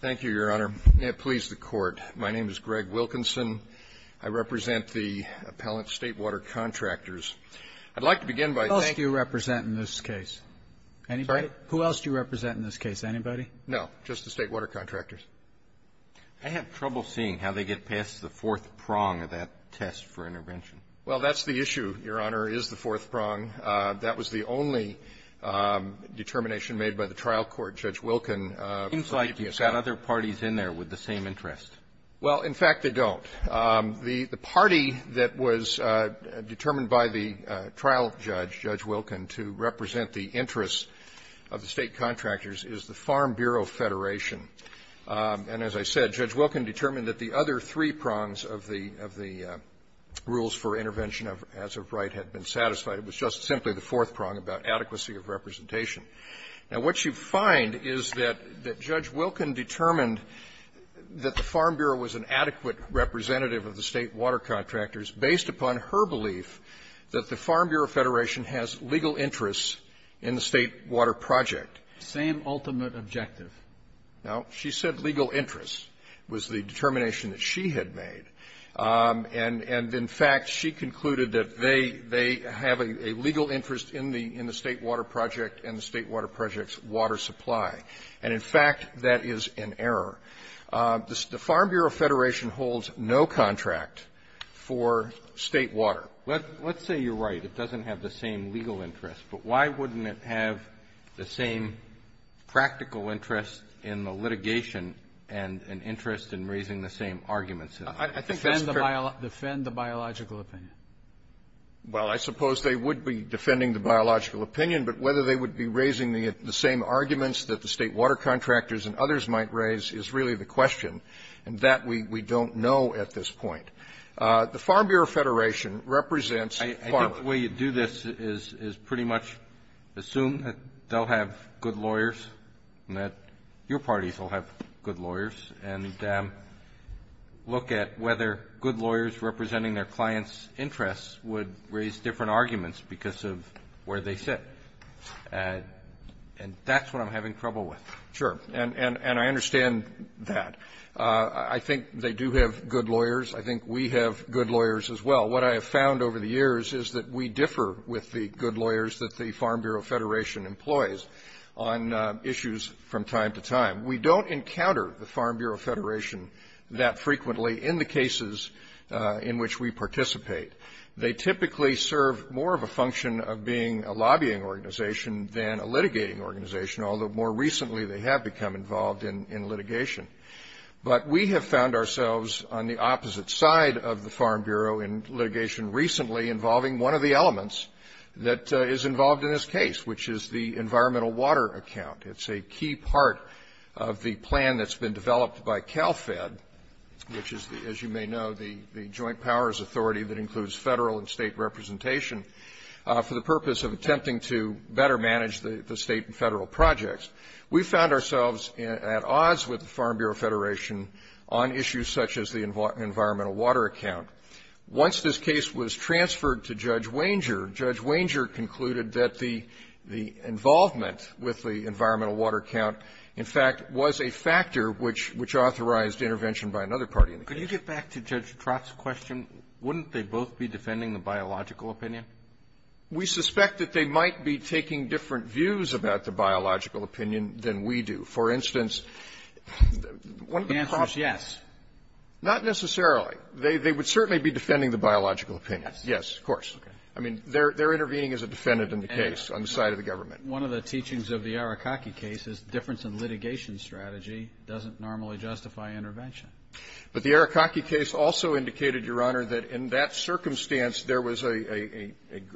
Thank you, Your Honor. May it please the Court, my name is Greg Wilkinson. I represent the appellant State Water Contractors. I'd like to begin by thanking Who else do you represent in this case? Anybody? Who else do you represent in this case? Anybody? No. Just the State Water Contractors. I have trouble seeing how they get past the fourth prong of that test for intervention. Well, that's the issue, Your Honor, is the fourth prong. That was the only determination made by the trial court, Judge Wilkin. It seems like you've got other parties in there with the same interest. Well, in fact, they don't. The party that was determined by the trial judge, Judge Wilkin, to represent the interests of the State Contractors is the Farm Bureau Federation. And as I said, Judge Wilkin determined that the other three prongs of the rules for intervention, as of right, had been satisfied. Now, what you find is that Judge Wilkin determined that the Farm Bureau was an adequate representative of the State Water Contractors based upon her belief that the Farm Bureau Federation has legal interests in the State Water Project. Same ultimate objective. Now, she said legal interests was the determination that she had made. And in fact, she concluded that they have a legal interest in the State Water Project and the State Water Project's water supply. And in fact, that is an error. The Farm Bureau Federation holds no contract for State water. Let's say you're right. It doesn't have the same legal interest. But why wouldn't it have the same practical interest in the litigation and an interest in raising the same arguments? I think that's fair. Defend the biological opinion. Well, I suppose they would be defending the biological opinion. But whether they would be raising the same arguments that the State Water Contractors and others might raise is really the question. And that we don't know at this point. The Farm Bureau Federation represents the Farm Bureau. I think the way you do this is pretty much assume that they'll have good lawyers and that your parties will have good lawyers and look at whether good lawyers representing their clients' interests would raise different arguments because of where they sit. And that's what I'm having trouble with. Sure. And I understand that. I think they do have good lawyers. I think we have good lawyers as well. What I have found over the years is that we differ with the good lawyers that the Farm Bureau Federation employs on issues from time to time. We don't encounter the Farm Bureau Federation that frequently in the cases in which we participate. They typically serve more of a function of being a lobbying organization than a litigating organization, although more recently they have become involved in litigation. But we have found ourselves on the opposite side of the Farm Bureau in litigation recently involving one of the elements that is involved in this case, which is the environmental water account. It's a key part of the plan that's been developed by CalFed, which is, as you may know, the joint powers authority that includes federal and state representation for the purpose of attempting to better manage the state and federal projects. We found ourselves at odds with the Farm Bureau Federation on issues such as the environmental water account. Once this case was transferred to Judge Wanger, Judge Wanger concluded that the involvement with the environmental water account, in fact, was a factor which authorized intervention by another party in the case. Could you get back to Judge Trott's question? Wouldn't they both be defending the biological opinion? We suspect that they might be taking different views about the biological opinion than we do. For instance, one of the props of the case they would certainly be defending the biological opinion. Yes, of course. I mean, they're intervening as a defendant in the case on the side of the government. One of the teachings of the Arikake case is difference in litigation strategy doesn't normally justify intervention. But the Arikake case also indicated, Your Honor, that in that circumstance, there was a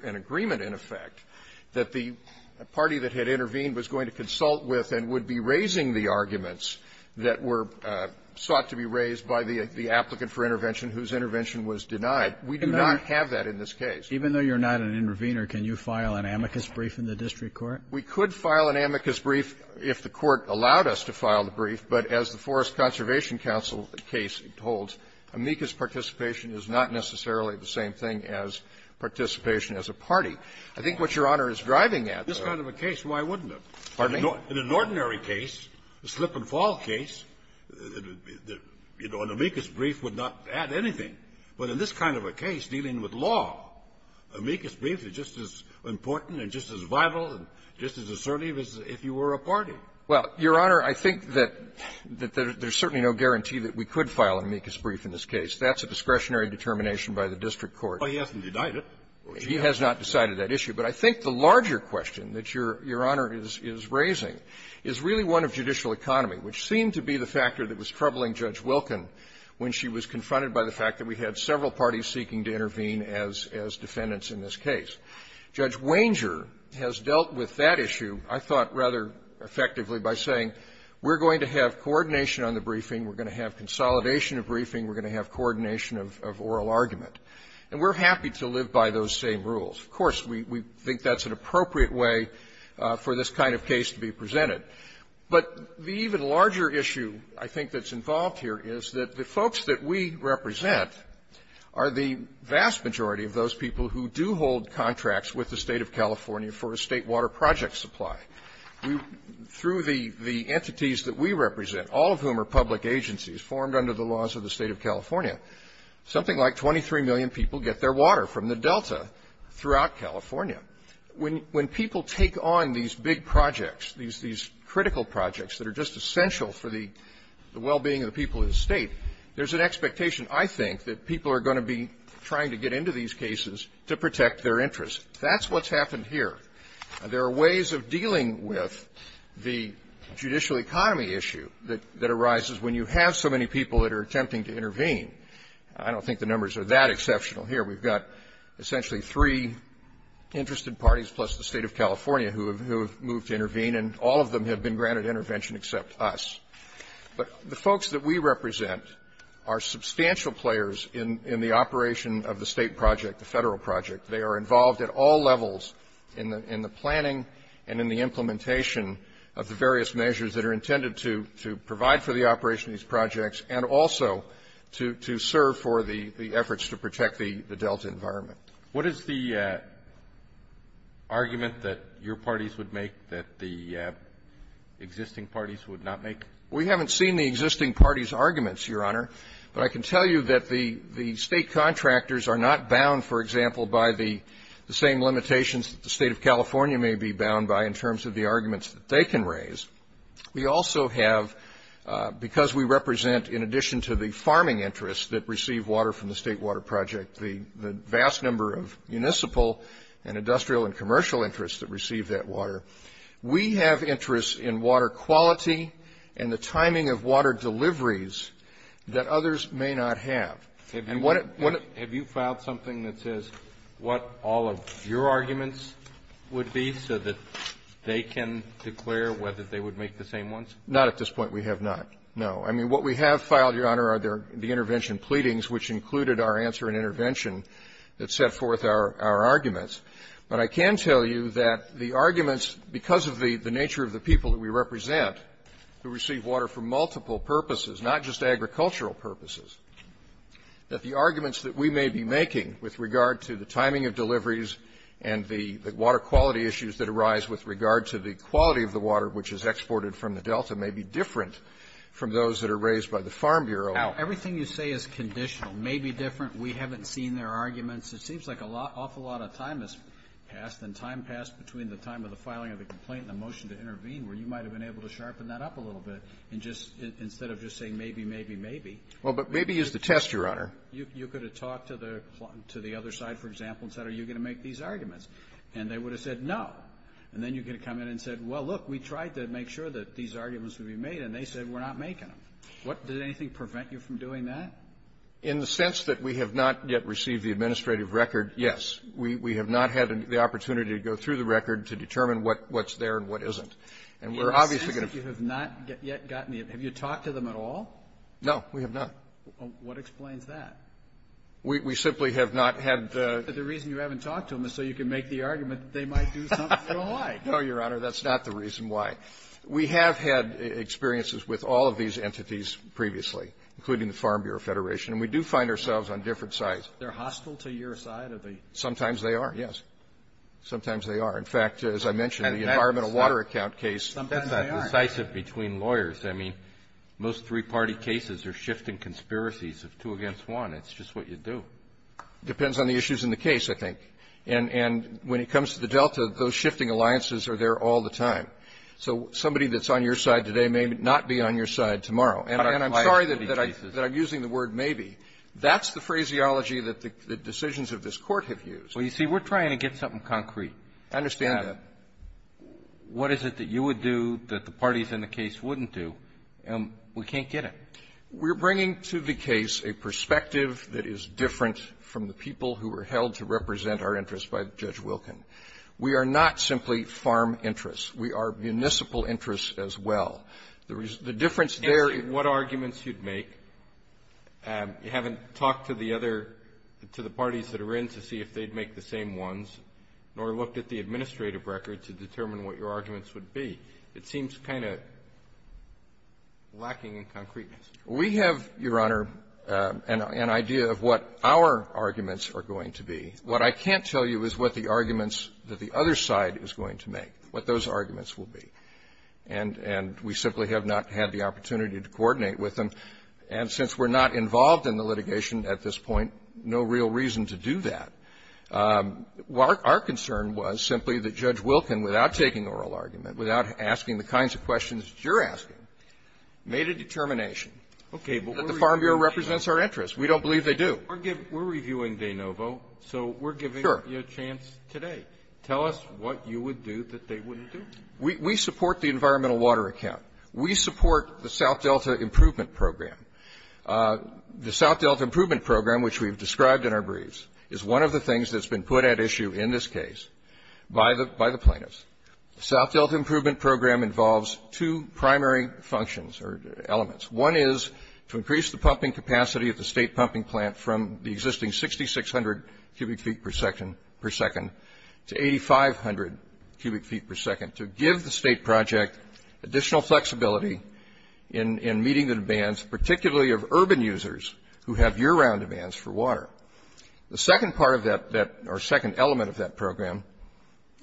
an agreement, in effect, that the party that had intervened was going to consult with and would be raising the arguments that were sought to be raised by the applicant for intervention whose intervention was denied. We do not have that in this case. Even though you're not an intervener, can you file an amicus brief in the district court? We could file an amicus brief if the Court allowed us to file the brief. But as the Forest Conservation Council case holds, amicus participation is not necessarily the same thing as participation as a party. I think what Your Honor is driving at is that this kind of a case, why wouldn't it? Pardon me? In an ordinary case, a slip-and-fall case, an amicus brief would not add anything. But in this kind of a case, dealing with law, amicus brief is just as important and just as vital and just as assertive as if you were a party. Well, Your Honor, I think that there's certainly no guarantee that we could file an amicus brief in this case. That's a discretionary determination by the district court. Well, he hasn't denied it. He has not decided that issue. But I think the larger question that Your Honor is raising is really one of judicial economy, which seemed to be the factor that was troubling Judge Wilken when she was we had several parties seeking to intervene as defendants in this case. Judge Wanger has dealt with that issue, I thought, rather effectively by saying we're going to have coordination on the briefing, we're going to have consolidation of briefing, we're going to have coordination of oral argument. And we're happy to live by those same rules. Of course, we think that's an appropriate way for this kind of case to be presented. But the even larger issue, I think, that's involved here is that the folks that we represent are the vast majority of those people who do hold contracts with the State of California for a State water project supply. Through the entities that we represent, all of whom are public agencies formed under the laws of the State of California, something like 23 million people get their water from the Delta throughout California. When people take on these big projects, these critical projects that are just essential for the well-being of the people of the State, there's an expectation, I think, that people are going to be trying to get into these cases to protect their interests. That's what's happened here. There are ways of dealing with the judicial economy issue that arises when you have so many people that are attempting to intervene. I don't think the numbers are that exceptional here. We've got essentially three interested parties plus the State of California who have moved to intervene, and all of them have been granted intervention except us. But the folks that we represent are substantial players in the operation of the State project, the Federal project. They are involved at all levels in the planning and in the implementation of the various measures that are intended to provide for the operation of these projects and also to serve for the efforts to protect the Delta environment. What is the argument that your parties would make that the existing parties would not make? We haven't seen the existing parties' arguments, Your Honor. But I can tell you that the State contractors are not bound, for example, by the same limitations that the State of California may be bound by in terms of the arguments that they can raise. We also have, because we represent in addition to the farming interests that receive water from the State water project, the vast number of municipal and industrial and commercial interests that receive that water, we have interests in water quality and the timing of water deliveries that others may not have. And what at one of the Have you filed something that says what all of your arguments would be so that they can declare whether they would make the same ones? Not at this point, we have not, no. I mean, what we have filed, Your Honor, are the intervention pleadings, which included our answer in intervention that set forth our arguments. But I can tell you that the arguments, because of the nature of the people that we represent, who receive water for multiple purposes, not just agricultural purposes, that the arguments that we may be making with regard to the timing of deliveries and the water quality issues that arise with regard to the quality of the water which is exported from the Delta may be different from those that are raised by the Farm Bureau. Now, everything you say is conditional, may be different. We haven't seen their arguments. It seems like an awful lot of time has passed, and time passed between the time of the filing of the complaint and the motion to intervene, where you might have been able to sharpen that up a little bit and just, instead of just saying maybe, maybe, maybe. Well, but maybe is the test, Your Honor. You could have talked to the other side, for example, and said, are you going to make these arguments? And they would have said no. And then you could have come in and said, well, look, we tried to make sure that these arguments would be made, and they said we're not making them. What, did anything prevent you from doing that? In the sense that we have not yet received the administrative record, yes. We have not had the opportunity to go through the record to determine what's there and what isn't. And we're obviously going to- In the sense that you have not yet gotten the, have you talked to them at all? No, we have not. What explains that? We simply have not had- The reason you haven't talked to them is so you can make the decision. I don't know why. No, Your Honor, that's not the reason why. We have had experiences with all of these entities previously, including the Farm Bureau Federation. And we do find ourselves on different sides. They're hostile to your side of the- Sometimes they are, yes. Sometimes they are. In fact, as I mentioned, the environmental water account case- Sometimes they are. That's not decisive between lawyers. I mean, most three-party cases are shifting conspiracies of two against one. It's just what you do. Depends on the issues in the case, I think. And when it comes to the Delta, those shifting alliances are there all the time. So somebody that's on your side today may not be on your side tomorrow. And I'm sorry that I'm using the word maybe. That's the phraseology that the decisions of this Court have used. Well, you see, we're trying to get something concrete. I understand that. What is it that you would do that the parties in the case wouldn't do? We can't get it. We're bringing to the case a perspective that is different from the people who were trying to represent our interests by Judge Wilkin. We are not simply farm interests. We are municipal interests as well. The difference there- And what arguments you'd make. You haven't talked to the other — to the parties that are in to see if they'd make the same ones, nor looked at the administrative record to determine what your arguments would be. It seems kind of lacking in concreteness. We have, Your Honor, an idea of what our arguments are going to be. What I can't tell you is what the arguments that the other side is going to make, what those arguments will be. And we simply have not had the opportunity to coordinate with them. And since we're not involved in the litigation at this point, no real reason to do that. Our concern was simply that Judge Wilkin, without taking oral argument, without asking the kinds of questions that you're asking, made a determination. Okay. That the Farm Bureau represents our interests. We don't believe they do. We're reviewing De Novo, so we're giving you a chance today. Tell us what you would do that they wouldn't do. We support the environmental water account. We support the South Delta Improvement Program. The South Delta Improvement Program, which we've described in our briefs, is one of the things that's been put at issue in this case by the plaintiffs. The South Delta Improvement Program involves two primary functions or elements. One is to increase the pumping capacity at the state pumping plant from the existing 6,600 cubic feet per second to 8,500 cubic feet per second, to give the state project additional flexibility in meeting the demands, particularly of urban users who have year-round demands for water. The second part of that, or second element of that program,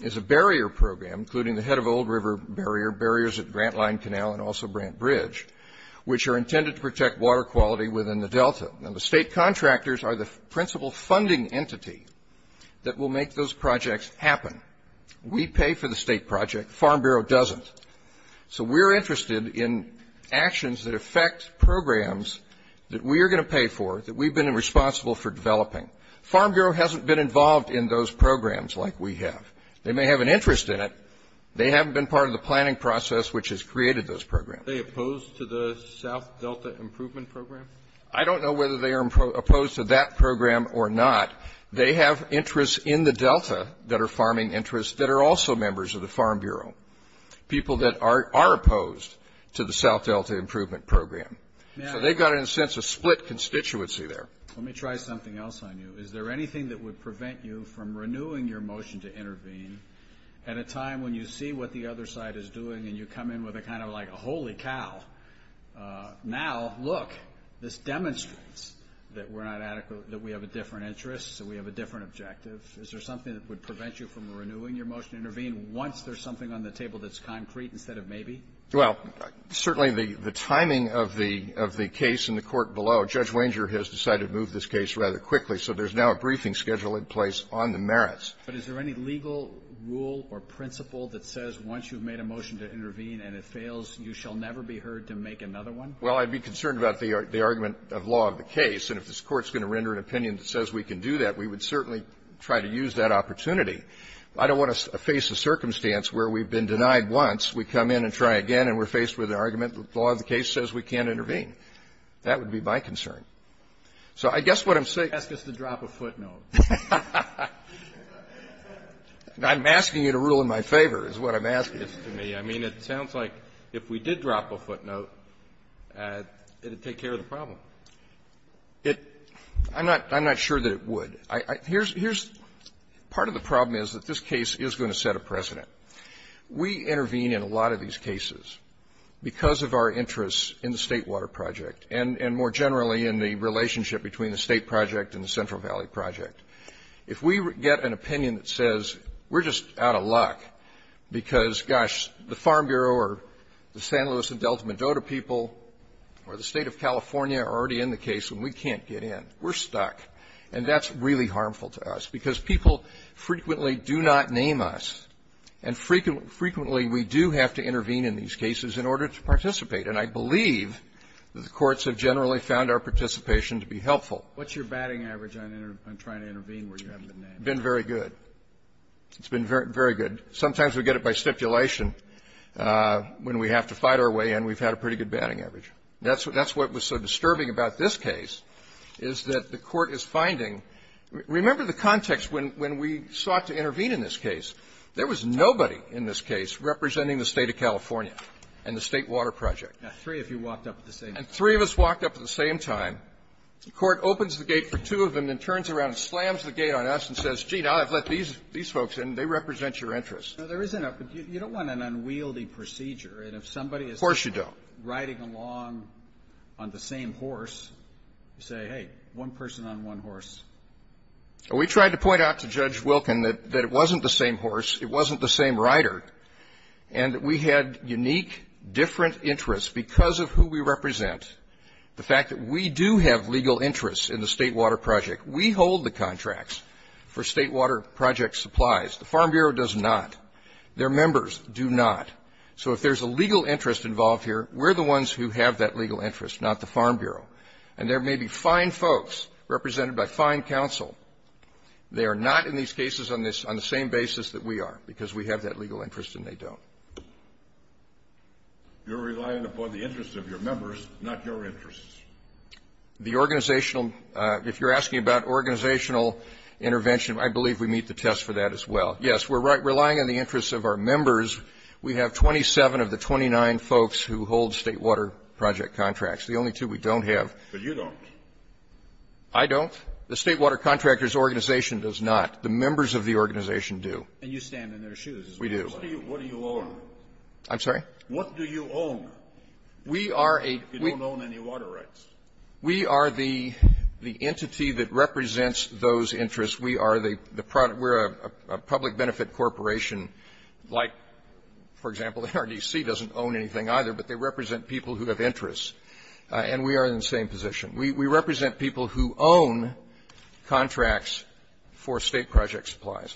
is a barrier program, including the head of Old River Barrier, barriers at Grant Line Canal and also Grant Bridge, which are intended to protect water quality within the delta. And the state contractors are the principal funding entity that will make those projects happen. We pay for the state project, Farm Bureau doesn't. So we're interested in actions that affect programs that we are going to pay for, that we've been responsible for developing. Farm Bureau hasn't been involved in those programs like we have. They may have an interest in it, they haven't been part of the planning process which has created those programs. Are they opposed to the South Delta Improvement Program? I don't know whether they are opposed to that program or not. They have interests in the delta that are farming interests that are also members of the Farm Bureau, people that are opposed to the South Delta Improvement Program. So they've got, in a sense, a split constituency there. Let me try something else on you. Is there anything that would prevent you from renewing your motion to intervene at a time when you see what the other side is doing and you come in with a kind of like a holy cow. Now, look, this demonstrates that we're not adequate, that we have a different interest, that we have a different objective. Is there something that would prevent you from renewing your motion to intervene once there's something on the table that's concrete instead of maybe? Well, certainly the timing of the case in the court below, Judge Wanger has decided to move this case rather quickly, so there's now a briefing schedule in place on the merits. But is there any legal rule or principle that says once you've made a motion to intervene and it fails, you shall never be heard to make another one? Well, I'd be concerned about the argument of law of the case. And if this Court's going to render an opinion that says we can do that, we would certainly try to use that opportunity. I don't want to face a circumstance where we've been denied once, we come in and try again, and we're faced with an argument that the law of the case says we can't intervene. That would be my concern. So I guess what I'm saying — Ask us to drop a footnote. I'm asking you to rule in my favor is what I'm asking. Yes, to me. I mean, it sounds like if we did drop a footnote, it would take care of the problem. It — I'm not — I'm not sure that it would. Here's — part of the problem is that this case is going to set a precedent. We intervene in a lot of these cases because of our interest in the State Water Project and more generally in the relationship between the State project and the Central Valley project. If we get an opinion that says we're just out of luck because, gosh, the Farm Bureau or the San Luis and Delta Medota people or the State of California are already in the case and we can't get in, we're stuck, and that's really harmful to us because people frequently do not name us, and frequently we do have to intervene in these cases. And the courts have generally found our participation to be helpful. What's your batting average on trying to intervene where you haven't been named? It's been very good. It's been very good. Sometimes we get it by stipulation when we have to fight our way in. We've had a pretty good batting average. That's what was so disturbing about this case is that the Court is finding — remember the context when we sought to intervene in this case. There was nobody in this case representing the State of California and the State Water Project. Now, three of you walked up at the same time. And three of us walked up at the same time. The Court opens the gate for two of them and turns around and slams the gate on us and says, gee, now I've let these folks in. They represent your interests. Now, there is an — you don't want an unwieldy procedure. And if somebody is — Of course you don't. — riding along on the same horse, you say, hey, one person on one horse. We tried to point out to Judge Wilkin that it wasn't the same horse, it wasn't the fact that we do have legal interests in the State Water Project. We hold the contracts for State Water Project supplies. The Farm Bureau does not. Their members do not. So if there's a legal interest involved here, we're the ones who have that legal interest, not the Farm Bureau. And there may be fine folks represented by fine counsel. They are not in these cases on this — on the same basis that we are, because we have that legal interest and they don't. You're relying upon the interests of your members, not your interests. The organizational — if you're asking about organizational intervention, I believe we meet the test for that as well. Yes, we're relying on the interests of our members. We have 27 of the 29 folks who hold State Water Project contracts. The only two we don't have — But you don't. I don't. The State Water Contractors Organization does not. The members of the organization do. And you stand in their shoes. We do. What do you own? I'm sorry? What do you own? We are a — You don't own any water rights. We are the entity that represents those interests. We are the — we're a public benefit corporation. Like, for example, the RDC doesn't own anything either, but they represent people who have interests. And we are in the same position. We represent people who own contracts for State Project supplies.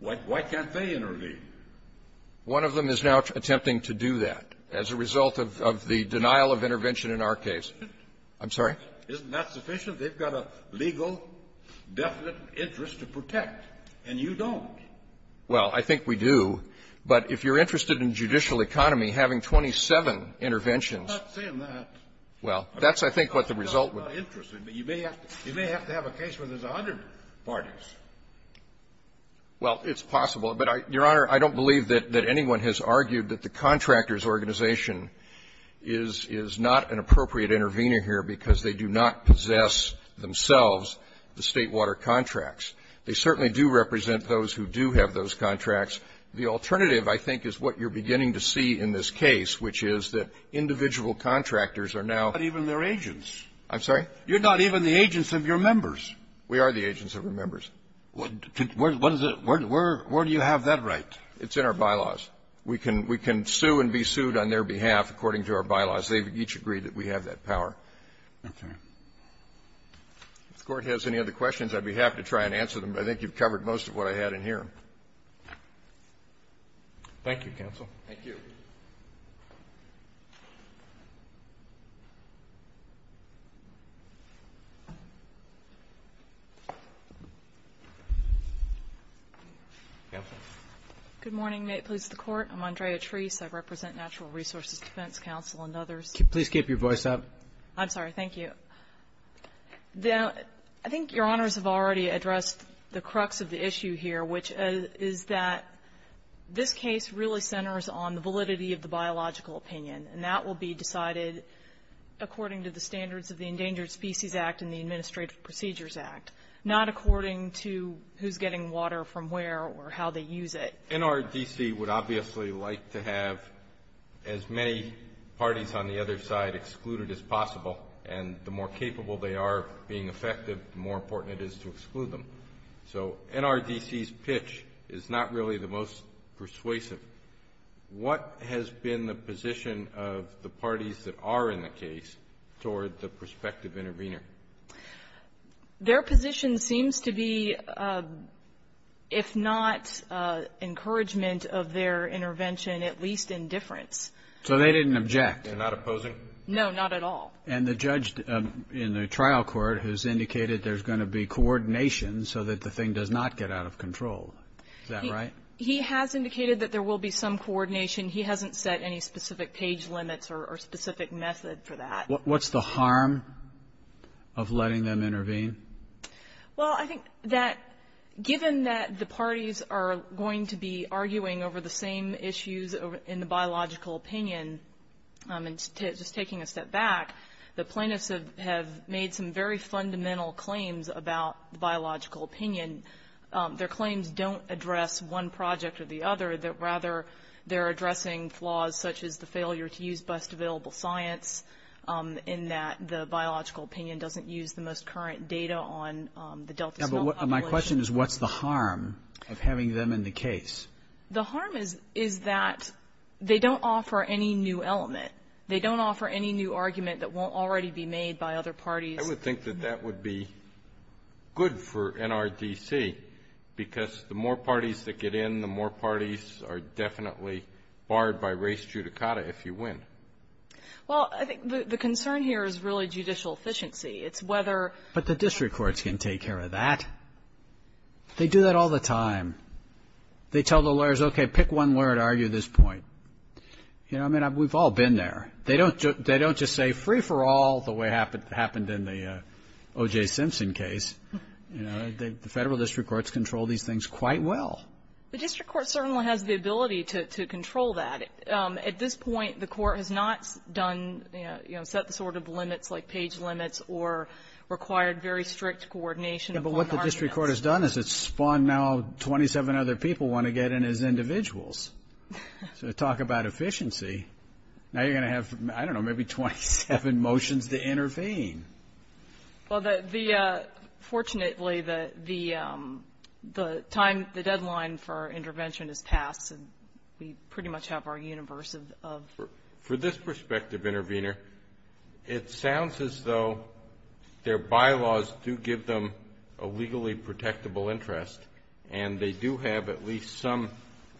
Why can't they intervene? One of them is now attempting to do that as a result of the denial of intervention in our case. I'm sorry? Isn't that sufficient? They've got a legal, definite interest to protect, and you don't. Well, I think we do. But if you're interested in judicial economy, having 27 interventions — I'm not saying that. Well, that's, I think, what the result would be. I'm not interested, but you may have to — you may have to have a case where there's 100 parties. Well, it's possible. But, Your Honor, I don't believe that — that anyone has argued that the contractor's organization is — is not an appropriate intervener here because they do not possess themselves the State Water contracts. They certainly do represent those who do have those contracts. The alternative, I think, is what you're beginning to see in this case, which is that individual contractors are now — Not even their agents. I'm sorry? You're not even the agents of your members. We are the agents of our members. What is the — where do you have that right? It's in our bylaws. We can — we can sue and be sued on their behalf according to our bylaws. They've each agreed that we have that power. Okay. If the Court has any other questions, I'd be happy to try and answer them. I think you've covered most of what I had in here. Thank you, counsel. Thank you. Counsel? Good morning. May it please the Court? I'm Andrea Treese. I represent Natural Resources Defense Counsel and others. Please keep your voice up. I'm sorry. Thank you. I think Your Honors have already addressed the crux of the issue here, which is that this case really centers on the validity and the integrity of the State Water contract. The validity of the biological opinion, and that will be decided according to the standards of the Endangered Species Act and the Administrative Procedures Act, not according to who's getting water from where or how they use it. NRDC would obviously like to have as many parties on the other side excluded as possible, and the more capable they are of being effective, the more important it is to exclude them. So NRDC's pitch is not really the most persuasive. What has been the position of the parties that are in the case toward the prospective intervener? Their position seems to be, if not encouragement of their intervention, at least indifference. So they didn't object? They're not opposing? No, not at all. And the judge in the trial court has indicated there's going to be coordination so that the thing does not get out of control. Is that right? He has indicated that there will be some coordination. He hasn't set any specific page limits or specific method for that. What's the harm of letting them intervene? Well, I think that given that the parties are going to be arguing over the same issues in the biological opinion, and just taking a step back, the plaintiffs have made some very fundamental claims about the biological opinion. Their claims don't address one project or the other, rather they're addressing flaws such as the failure to use best available science, in that the biological opinion doesn't use the most current data on the Delta population. My question is what's the harm of having them in the case? The harm is that they don't offer any new element. They don't offer any new argument that won't already be made by other parties. I would think that that would be good for NRDC, because the more parties that get in, the more parties are definitely barred by res judicata if you win. Well, I think the concern here is really judicial efficiency. It's whether But the district courts can take care of that. They do that all the time. They tell the lawyers, okay, pick one lawyer to argue this point. You know, I mean, we've all been there. They don't just say free for all the way it happened in the O.J. Simpson case. You know, the federal district courts control these things quite well. The district court certainly has the ability to control that. At this point, the court has not done, you know, set the sort of limits like page limits or required very strict coordination. Yeah, but what the district court has done is it's spawned now 27 other people want to get in as individuals. So talk about efficiency. Now you're going to have, I don't know, maybe 27 motions to intervene. Well, fortunately, the deadline for intervention has passed, and we pretty much have our universe of For this perspective, Intervenor, it sounds as though their bylaws do give them a legally protectable interest, and they do have at least some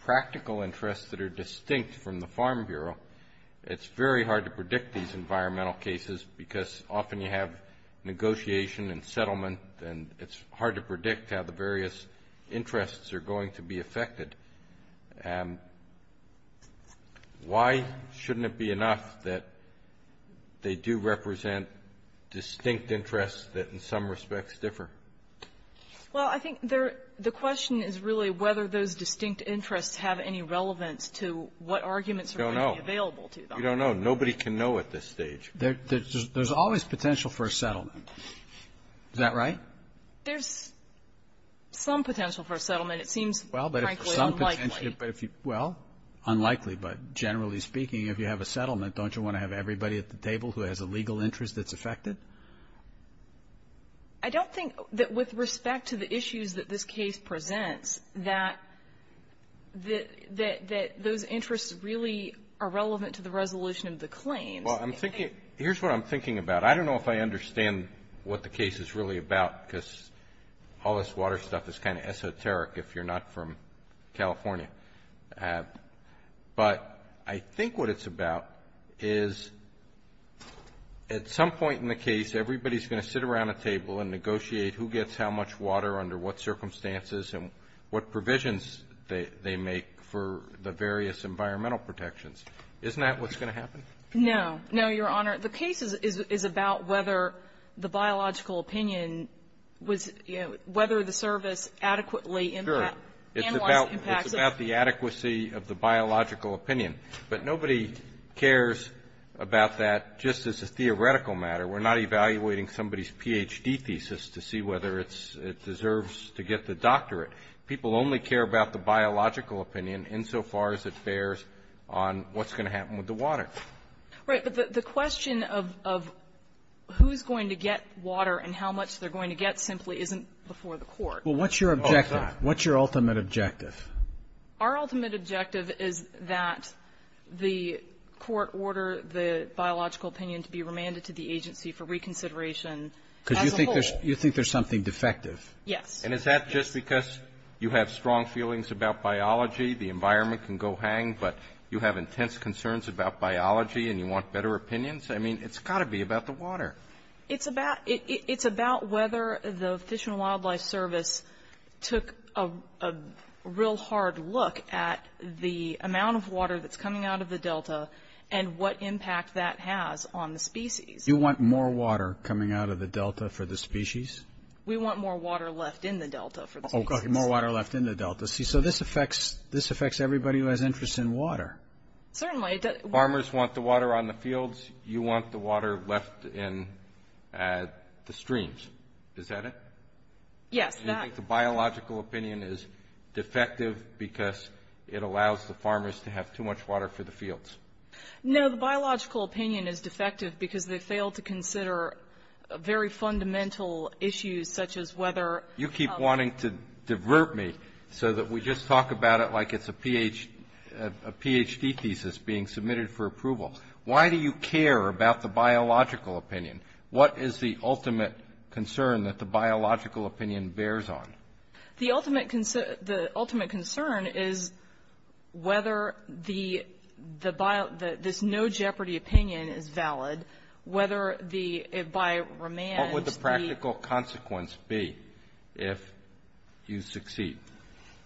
practical interests that are distinct from the Farm Bureau. It's very hard to predict these environmental cases because often you have negotiation and settlement, and it's hard to predict how the various interests are going to be affected. Why shouldn't it be enough that they do represent distinct interests that in some respects differ? Well, I think the question is really whether those distinct interests have any relevance to what arguments are going to be available to them. We don't know. Nobody can know at this stage. There's always potential for a settlement. Is that right? There's some potential for a settlement. It seems, frankly, unlikely. Well, unlikely, but generally speaking, if you have a settlement, don't you want to have everybody at the table who has a legal interest that's affected? I don't think that with respect to the issues that this case presents, that those interests really are relevant to the resolution of the claims. Well, here's what I'm thinking about. I don't know if I understand what the case is really about because all this water stuff is kind of esoteric if you're not from California. But I think what it's about is at some point in the case, everybody's going to sit around a table and negotiate who gets how much water under what circumstances and what provisions they make for the various environmental protections. Isn't that what's going to happen? No. No, Your Honor. The case is about whether the biological opinion was, you know, whether the service adequately analyzed the impacts of the water. It's about the adequacy of the biological opinion. But nobody cares about that just as a theoretical matter. We're not evaluating somebody's Ph.D. thesis to see whether it's — it deserves to get the doctorate. People only care about the biological opinion insofar as it bears on what's going to happen with the water. Right. But the question of who's going to get water and how much they're going to get simply isn't before the Court. Well, what's your objective? What's your ultimate objective? Our ultimate objective is that the Court order the biological opinion to be remanded to the agency for reconsideration as a whole. Because you think there's something defective. Yes. And is that just because you have strong feelings about biology, the environment can go hang, but you have intense concerns about biology and you want better opinions? It's about whether the Fish and Wildlife Service took a real hard look at the amount of water that's coming out of the delta and what impact that has on the species. You want more water coming out of the delta for the species? We want more water left in the delta for the species. More water left in the delta. See, so this affects everybody who has interest in water. Certainly. Farmers want the water on the fields. You want the water left in the streams. Is that it? Yes. You think the biological opinion is defective because it allows the farmers to have too much water for the fields? No, the biological opinion is defective because they fail to consider very fundamental issues such as whether. You keep wanting to divert me so that we just talk about it like it's a Ph.D. thesis being submitted for approval. Why do you care about the biological opinion? What is the ultimate concern that the biological opinion bears on? The ultimate concern is whether this no-jeopardy opinion is valid, whether by remand. What would the practical consequence be if you succeed?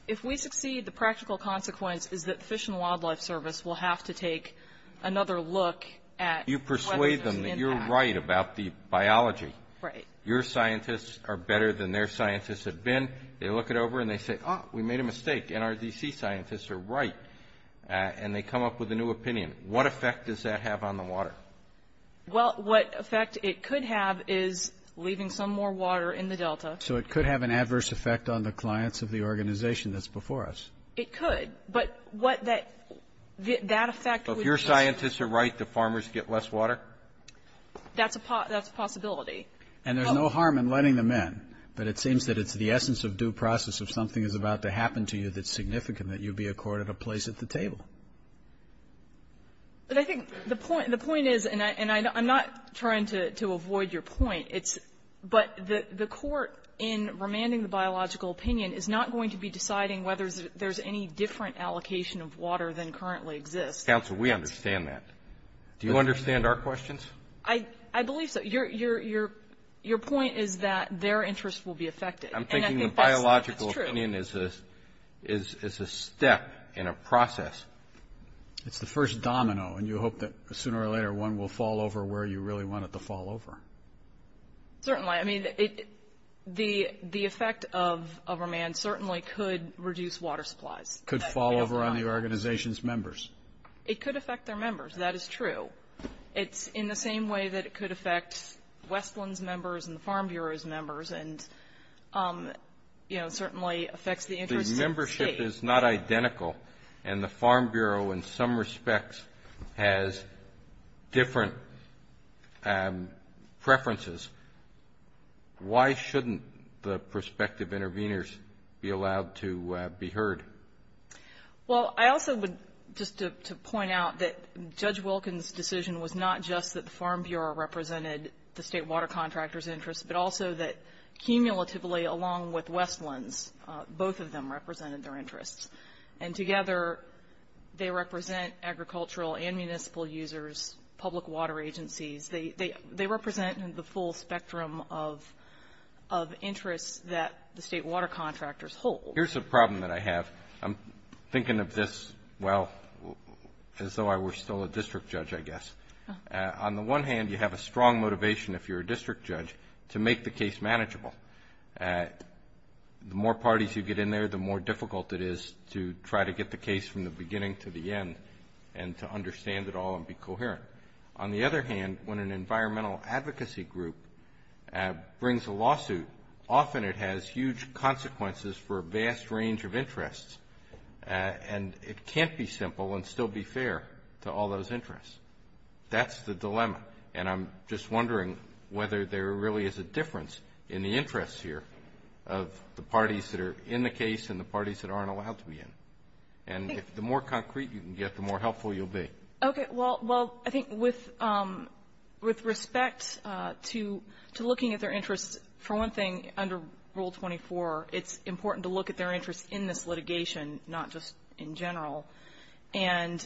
If we succeed, the practical consequence is that the Fish and Wildlife Service will have to take another look at whether there's an impact. You persuade them that you're right about the biology. Right. Your scientists are better than their scientists have been. They look it over and they say, oh, we made a mistake. NRDC scientists are right. And they come up with a new opinion. What effect does that have on the water? Well, what effect it could have is leaving some more water in the delta. So it could have an adverse effect on the clients of the organization that's before us. It could. But what that effect would be is If your scientists are right, the farmers get less water? That's a possibility. And there's no harm in letting them in. But it seems that it's the essence of due process. If something is about to happen to you that's significant, that you be accorded a place at the table. But I think the point is, and I'm not trying to avoid your point, but the court in remanding the biological opinion is not going to be deciding whether there's any different allocation of water than currently exists. Counsel, we understand that. Do you understand our questions? I believe so. Your point is that their interest will be affected. I'm thinking the biological opinion is a step in a process. It's the first domino. And you hope that sooner or later one will fall over where you really want it to fall over. Certainly. I mean, the effect of remand certainly could reduce water supplies. Could fall over on the organization's members. It could affect their members. That is true. It's in the same way that it could affect Westland's members and the Farm Bureau's members. And it certainly affects the interest of the state. If the membership is not identical and the Farm Bureau in some respects has different preferences, why shouldn't the prospective interveners be allowed to be heard? Well, I also would just to point out that Judge Wilkins' decision was not just that the Farm Bureau represented the state water contractor's interest, but also that cumulatively along with Westland's, both of them represented their interests. And together, they represent agricultural and municipal users, public water agencies. They represent the full spectrum of interests that the state water contractors hold. Here's a problem that I have. I'm thinking of this, well, as though I were still a district judge, I guess. On the one hand, you have a strong motivation if you're a district judge to make the case manageable. The more parties who get in there, the more difficult it is to try to get the case from the beginning to the end and to understand it all and be coherent. On the other hand, when an environmental advocacy group brings a lawsuit, often it has huge consequences for a vast range of interests. And it can't be simple and still be fair to all those interests. That's the dilemma. And I'm just wondering whether there really is a difference in the interests here of the parties that are in the case and the parties that aren't allowed to be in. And the more concrete you can get, the more helpful you'll be. Okay, well, I think with respect to looking at their interests, for one thing, under Rule 24, it's important to look at their interests in this litigation, not just in general. And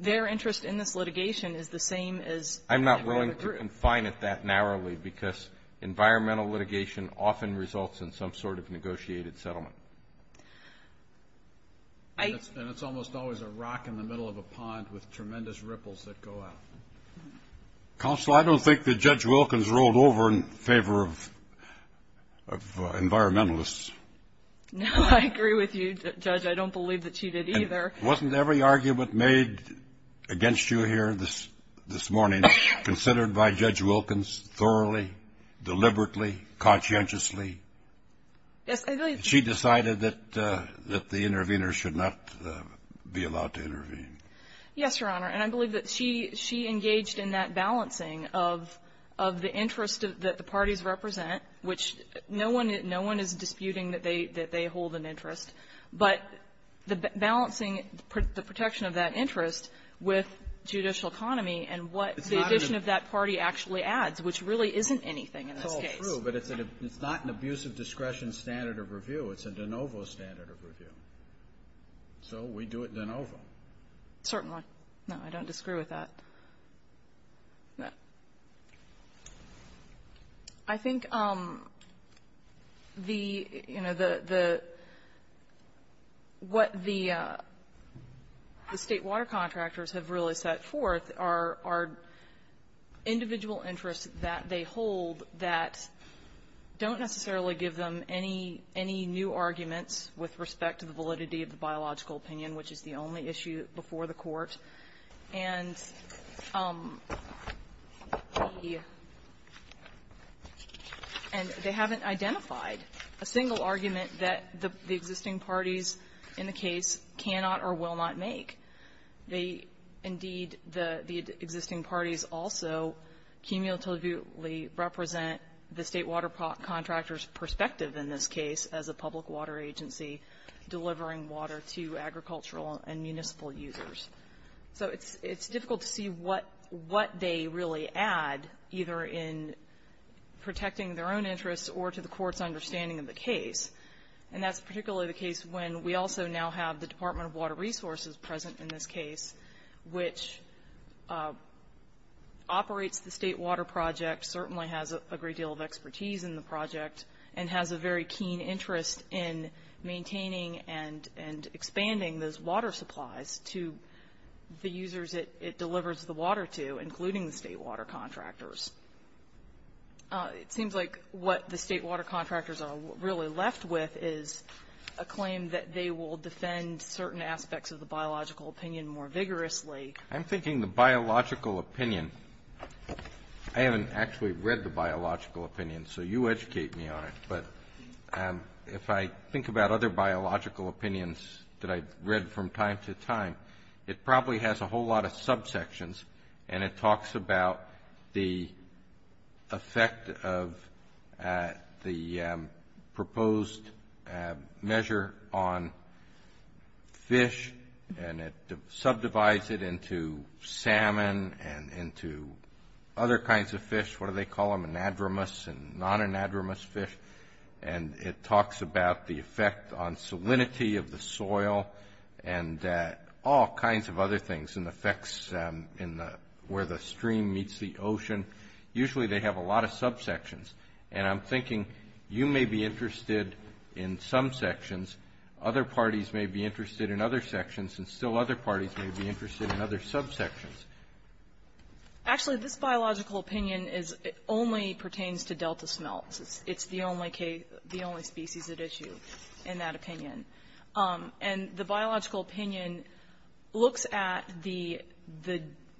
their interest in this litigation is the same as that of the group. I'm not willing to confine it that narrowly because environmental litigation often results in some sort of negotiated settlement. And it's almost always a rock in the middle of a pond with tremendous ripples that go out. Counsel, I don't think that Judge Wilkins rolled over in favor of environmentalists. No, I agree with you, Judge. I don't believe that she did either. Wasn't every argument made against you here this morning considered by Judge Wilkins thoroughly, deliberately, conscientiously? Yes, I believe that the interveners should not be allowed to intervene. Yes, Your Honor. And I believe that she engaged in that balancing of the interest that the parties represent, which no one is disputing that they hold an interest, but the balancing the protection of that interest with judicial economy and what the addition of that party actually adds, which really isn't anything in this case. It's true, but it's not an abusive discretion standard of review. It's a de novo standard of review. So we do it de novo. Certainly. No, I don't disagree with that. I think the, you know, what the State water contractors have really set forth are individual interests that they hold that don't necessarily give them any new arguments with respect to the validity of the biological opinion, which is the only issue before the Court. And they haven't identified a single argument that the existing parties in the case cannot or will not make. They, indeed, the existing parties also cumulatively represent the State water contractors perspective in this case as a public water agency delivering water to agricultural and municipal users. So it's difficult to see what they really add, either in protecting their own interests or to the Court's understanding of the case. And that's particularly the case when we also now have the Department of Water Resources present in this case, which operates the State water project, certainly has a great deal of expertise in the project, and has a very keen interest in maintaining and expanding those water supplies to the users it delivers the water to, including the State water contractors. It seems like what the State water contractors are really left with is a claim that they will defend certain aspects of the biological opinion more vigorously. I'm thinking the biological opinion. I haven't actually read the biological opinion, so you educate me on it. But if I think about other biological opinions that I've read from time to time, it probably has a whole lot of subsections, and it talks about the effect of the proposed measure on fish, and it subdivides it into salmon and into other kinds of fish. What do they call them? Anadromous and non-anadromous fish. And it talks about the effect on salinity of the soil, and all kinds of other things, and the effects where the stream meets the ocean. Usually they have a lot of subsections. And I'm thinking you may be interested in some sections, other parties may be interested in other sections, and still other parties may be interested in other subsections. Actually, this biological opinion only pertains to delta smelts. It's the only species at issue in that opinion. And the biological opinion looks at the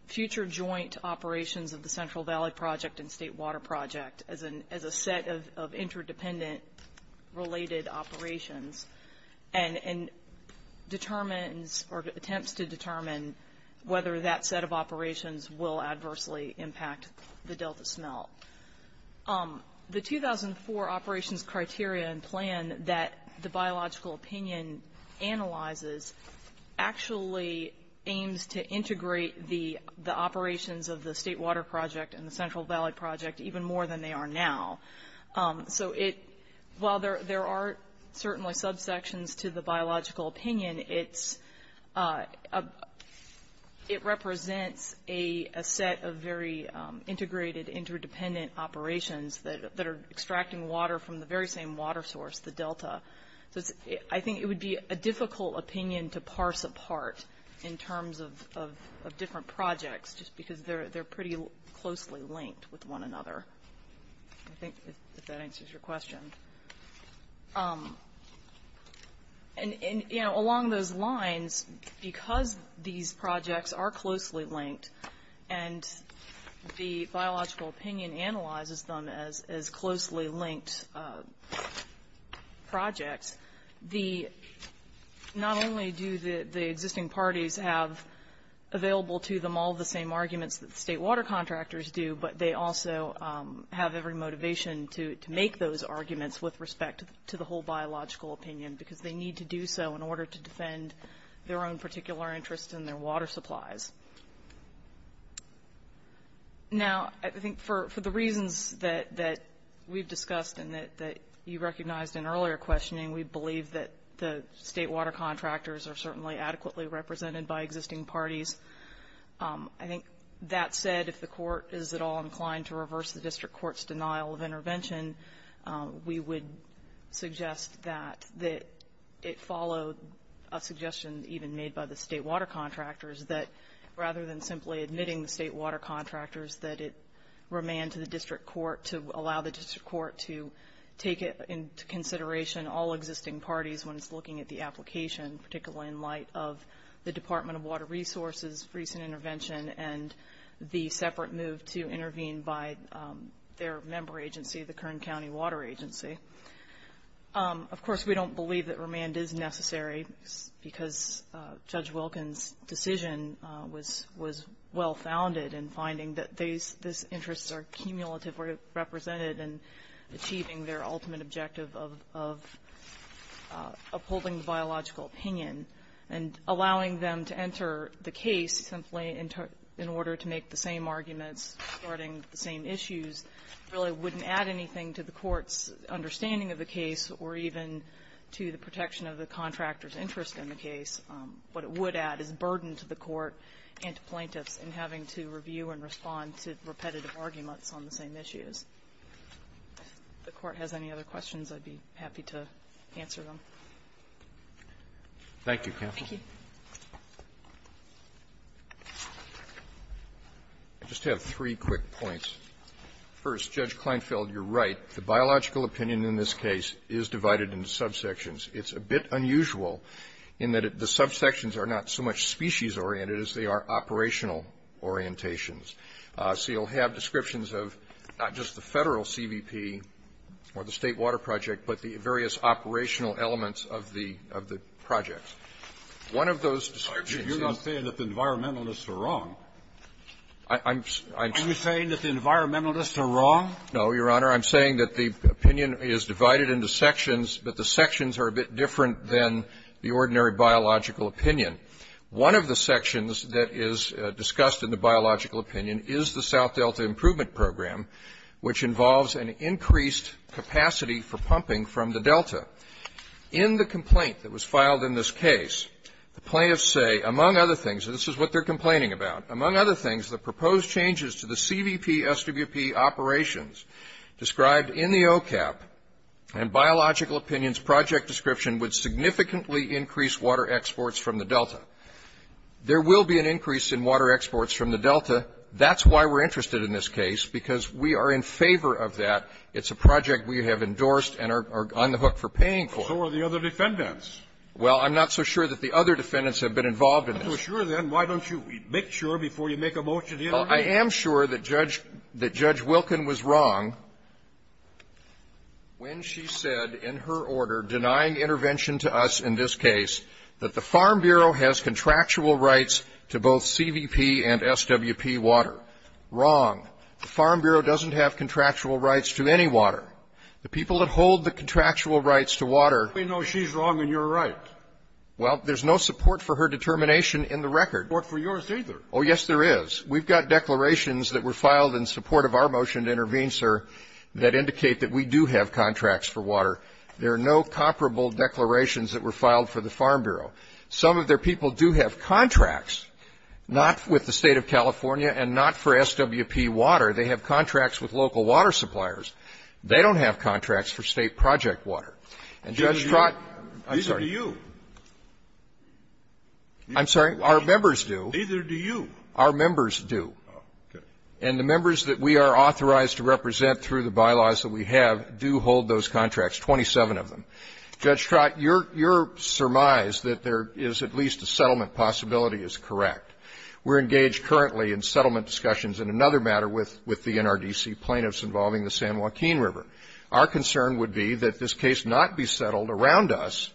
future joint operations of the Central Valley Project and State Water Project as a set of interdependent related operations, and determines or attempts to determine whether that set of operations will adversely impact the delta smelt. The 2004 operations criteria and plan that the biological opinion analyzes actually aims to integrate the operations of the State Water Project and the Central Valley Project even more than they are now. So while there are certainly subsections to the biological opinion, it represents a set of very integrated interdependent operations that are extracting water from the very same water source, the delta. So I think it would be a difficult opinion to parse apart in terms of different projects, just because they're pretty closely linked with one another, I think, if that answers your question. And along those lines, because these projects are closely linked and the biological opinion analyzes them as closely linked projects, not only do the existing parties have available to them all the same arguments that the state water contractors do, but they also have every motivation to make those arguments with respect to the whole biological opinion, because they need to do so in order to defend their own particular interests and their water supplies. Now, I think for the reasons that we've discussed and that you recognized in earlier questioning, we believe that the state water contractors are certainly adequately represented by existing parties. I think that said, if the court is at all inclined to reverse the district court's denial of intervention, we would suggest that it follow a suggestion even made by the state water contractors, that rather than simply admitting the state water contractors, that it remain to the district court to allow the district court to take into consideration all existing parties when it's looking at the application, particularly in light of the Department of Water Resources' recent intervention and the separate move to intervene by their member agency, the Kern County Water Agency. Of course, we don't believe that remand is necessary, because Judge Wilkins' decision was well-founded in finding that these interests are cumulatively represented and achieving their ultimate objective of upholding the biological opinion and allowing them to enter the case simply in order to make the same arguments regarding the same issues really wouldn't add anything to the court's understanding of the case or even to the protection of the contractor's interest in the case. What it would add is burden to the court and to plaintiffs in having to review and respond to repetitive arguments on the same issues. If the Court has any other questions, I'd be happy to answer them. Thank you, counsel. Thank you. I just have three quick points. First, Judge Kleinfeld, you're right. The biological opinion in this case is divided into subsections. It's a bit unusual in that the subsections are not so much species-oriented as they are operational orientations. So you'll have descriptions of not just the Federal CVP or the State Water Project, but the various operational elements of the projects. One of those descriptions is the environmentalists are wrong. Are you saying that the environmentalists are wrong? No, Your Honor. I'm saying that the opinion is divided into sections, but the sections are a bit different than the ordinary biological opinion. One of the sections that is discussed in the biological opinion is the South Delta Improvement Program, which involves an increased capacity for pumping from the Delta. In the complaint that was filed in this case, the plaintiffs say, among other things, and this is what they're complaining about, the proposed changes to the CVP-SWP operations described in the OCAP and biological opinions project description would significantly increase water exports from the Delta. There will be an increase in water exports from the Delta. That's why we're interested in this case, because we are in favor of that. It's a project we have endorsed and are on the hook for paying for. So are the other defendants. Well, I'm not so sure that the other defendants have been involved in this. Well, if you're not so sure, then why don't you make sure before you make a motion here? Well, I am sure that Judge Wilkin was wrong when she said in her order denying intervention to us in this case that the Farm Bureau has contractual rights to both CVP and SWP water. Wrong. The Farm Bureau doesn't have contractual rights to any water. The people that hold the contractual rights to water. Well, we know she's wrong and you're right. Well, there's no support for her determination in the record. There's no support for yours either. Oh, yes, there is. We've got declarations that were filed in support of our motion to intervene, sir, that indicate that we do have contracts for water. There are no comparable declarations that were filed for the Farm Bureau. Some of their people do have contracts, not with the State of California and not for SWP water. They have contracts with local water suppliers. They don't have contracts for State project water. And Judge Trott — I'm sorry. Neither do you. I'm sorry? Our members do. Neither do you. Our members do. Oh, okay. And the members that we are authorized to represent through the bylaws that we have do hold those contracts, 27 of them. Judge Trott, you're surmised that there is at least a settlement possibility is correct. We're engaged currently in settlement discussions in another matter with the NRDC plaintiffs involving the San Joaquin River. Our concern would be that this case not be settled around us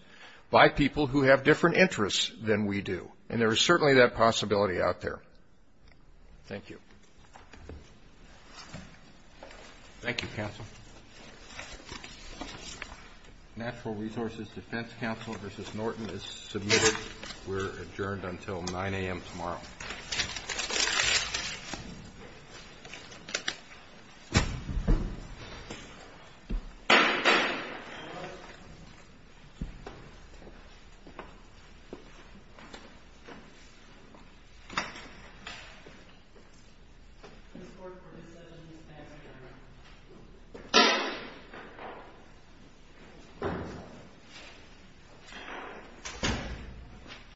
by people who have different interests than we do. And there is certainly that possibility out there. Thank you. Thank you, counsel. Natural Resources Defense Counsel versus Norton is submitted. We're adjourned until 9 a.m. tomorrow. Thank you.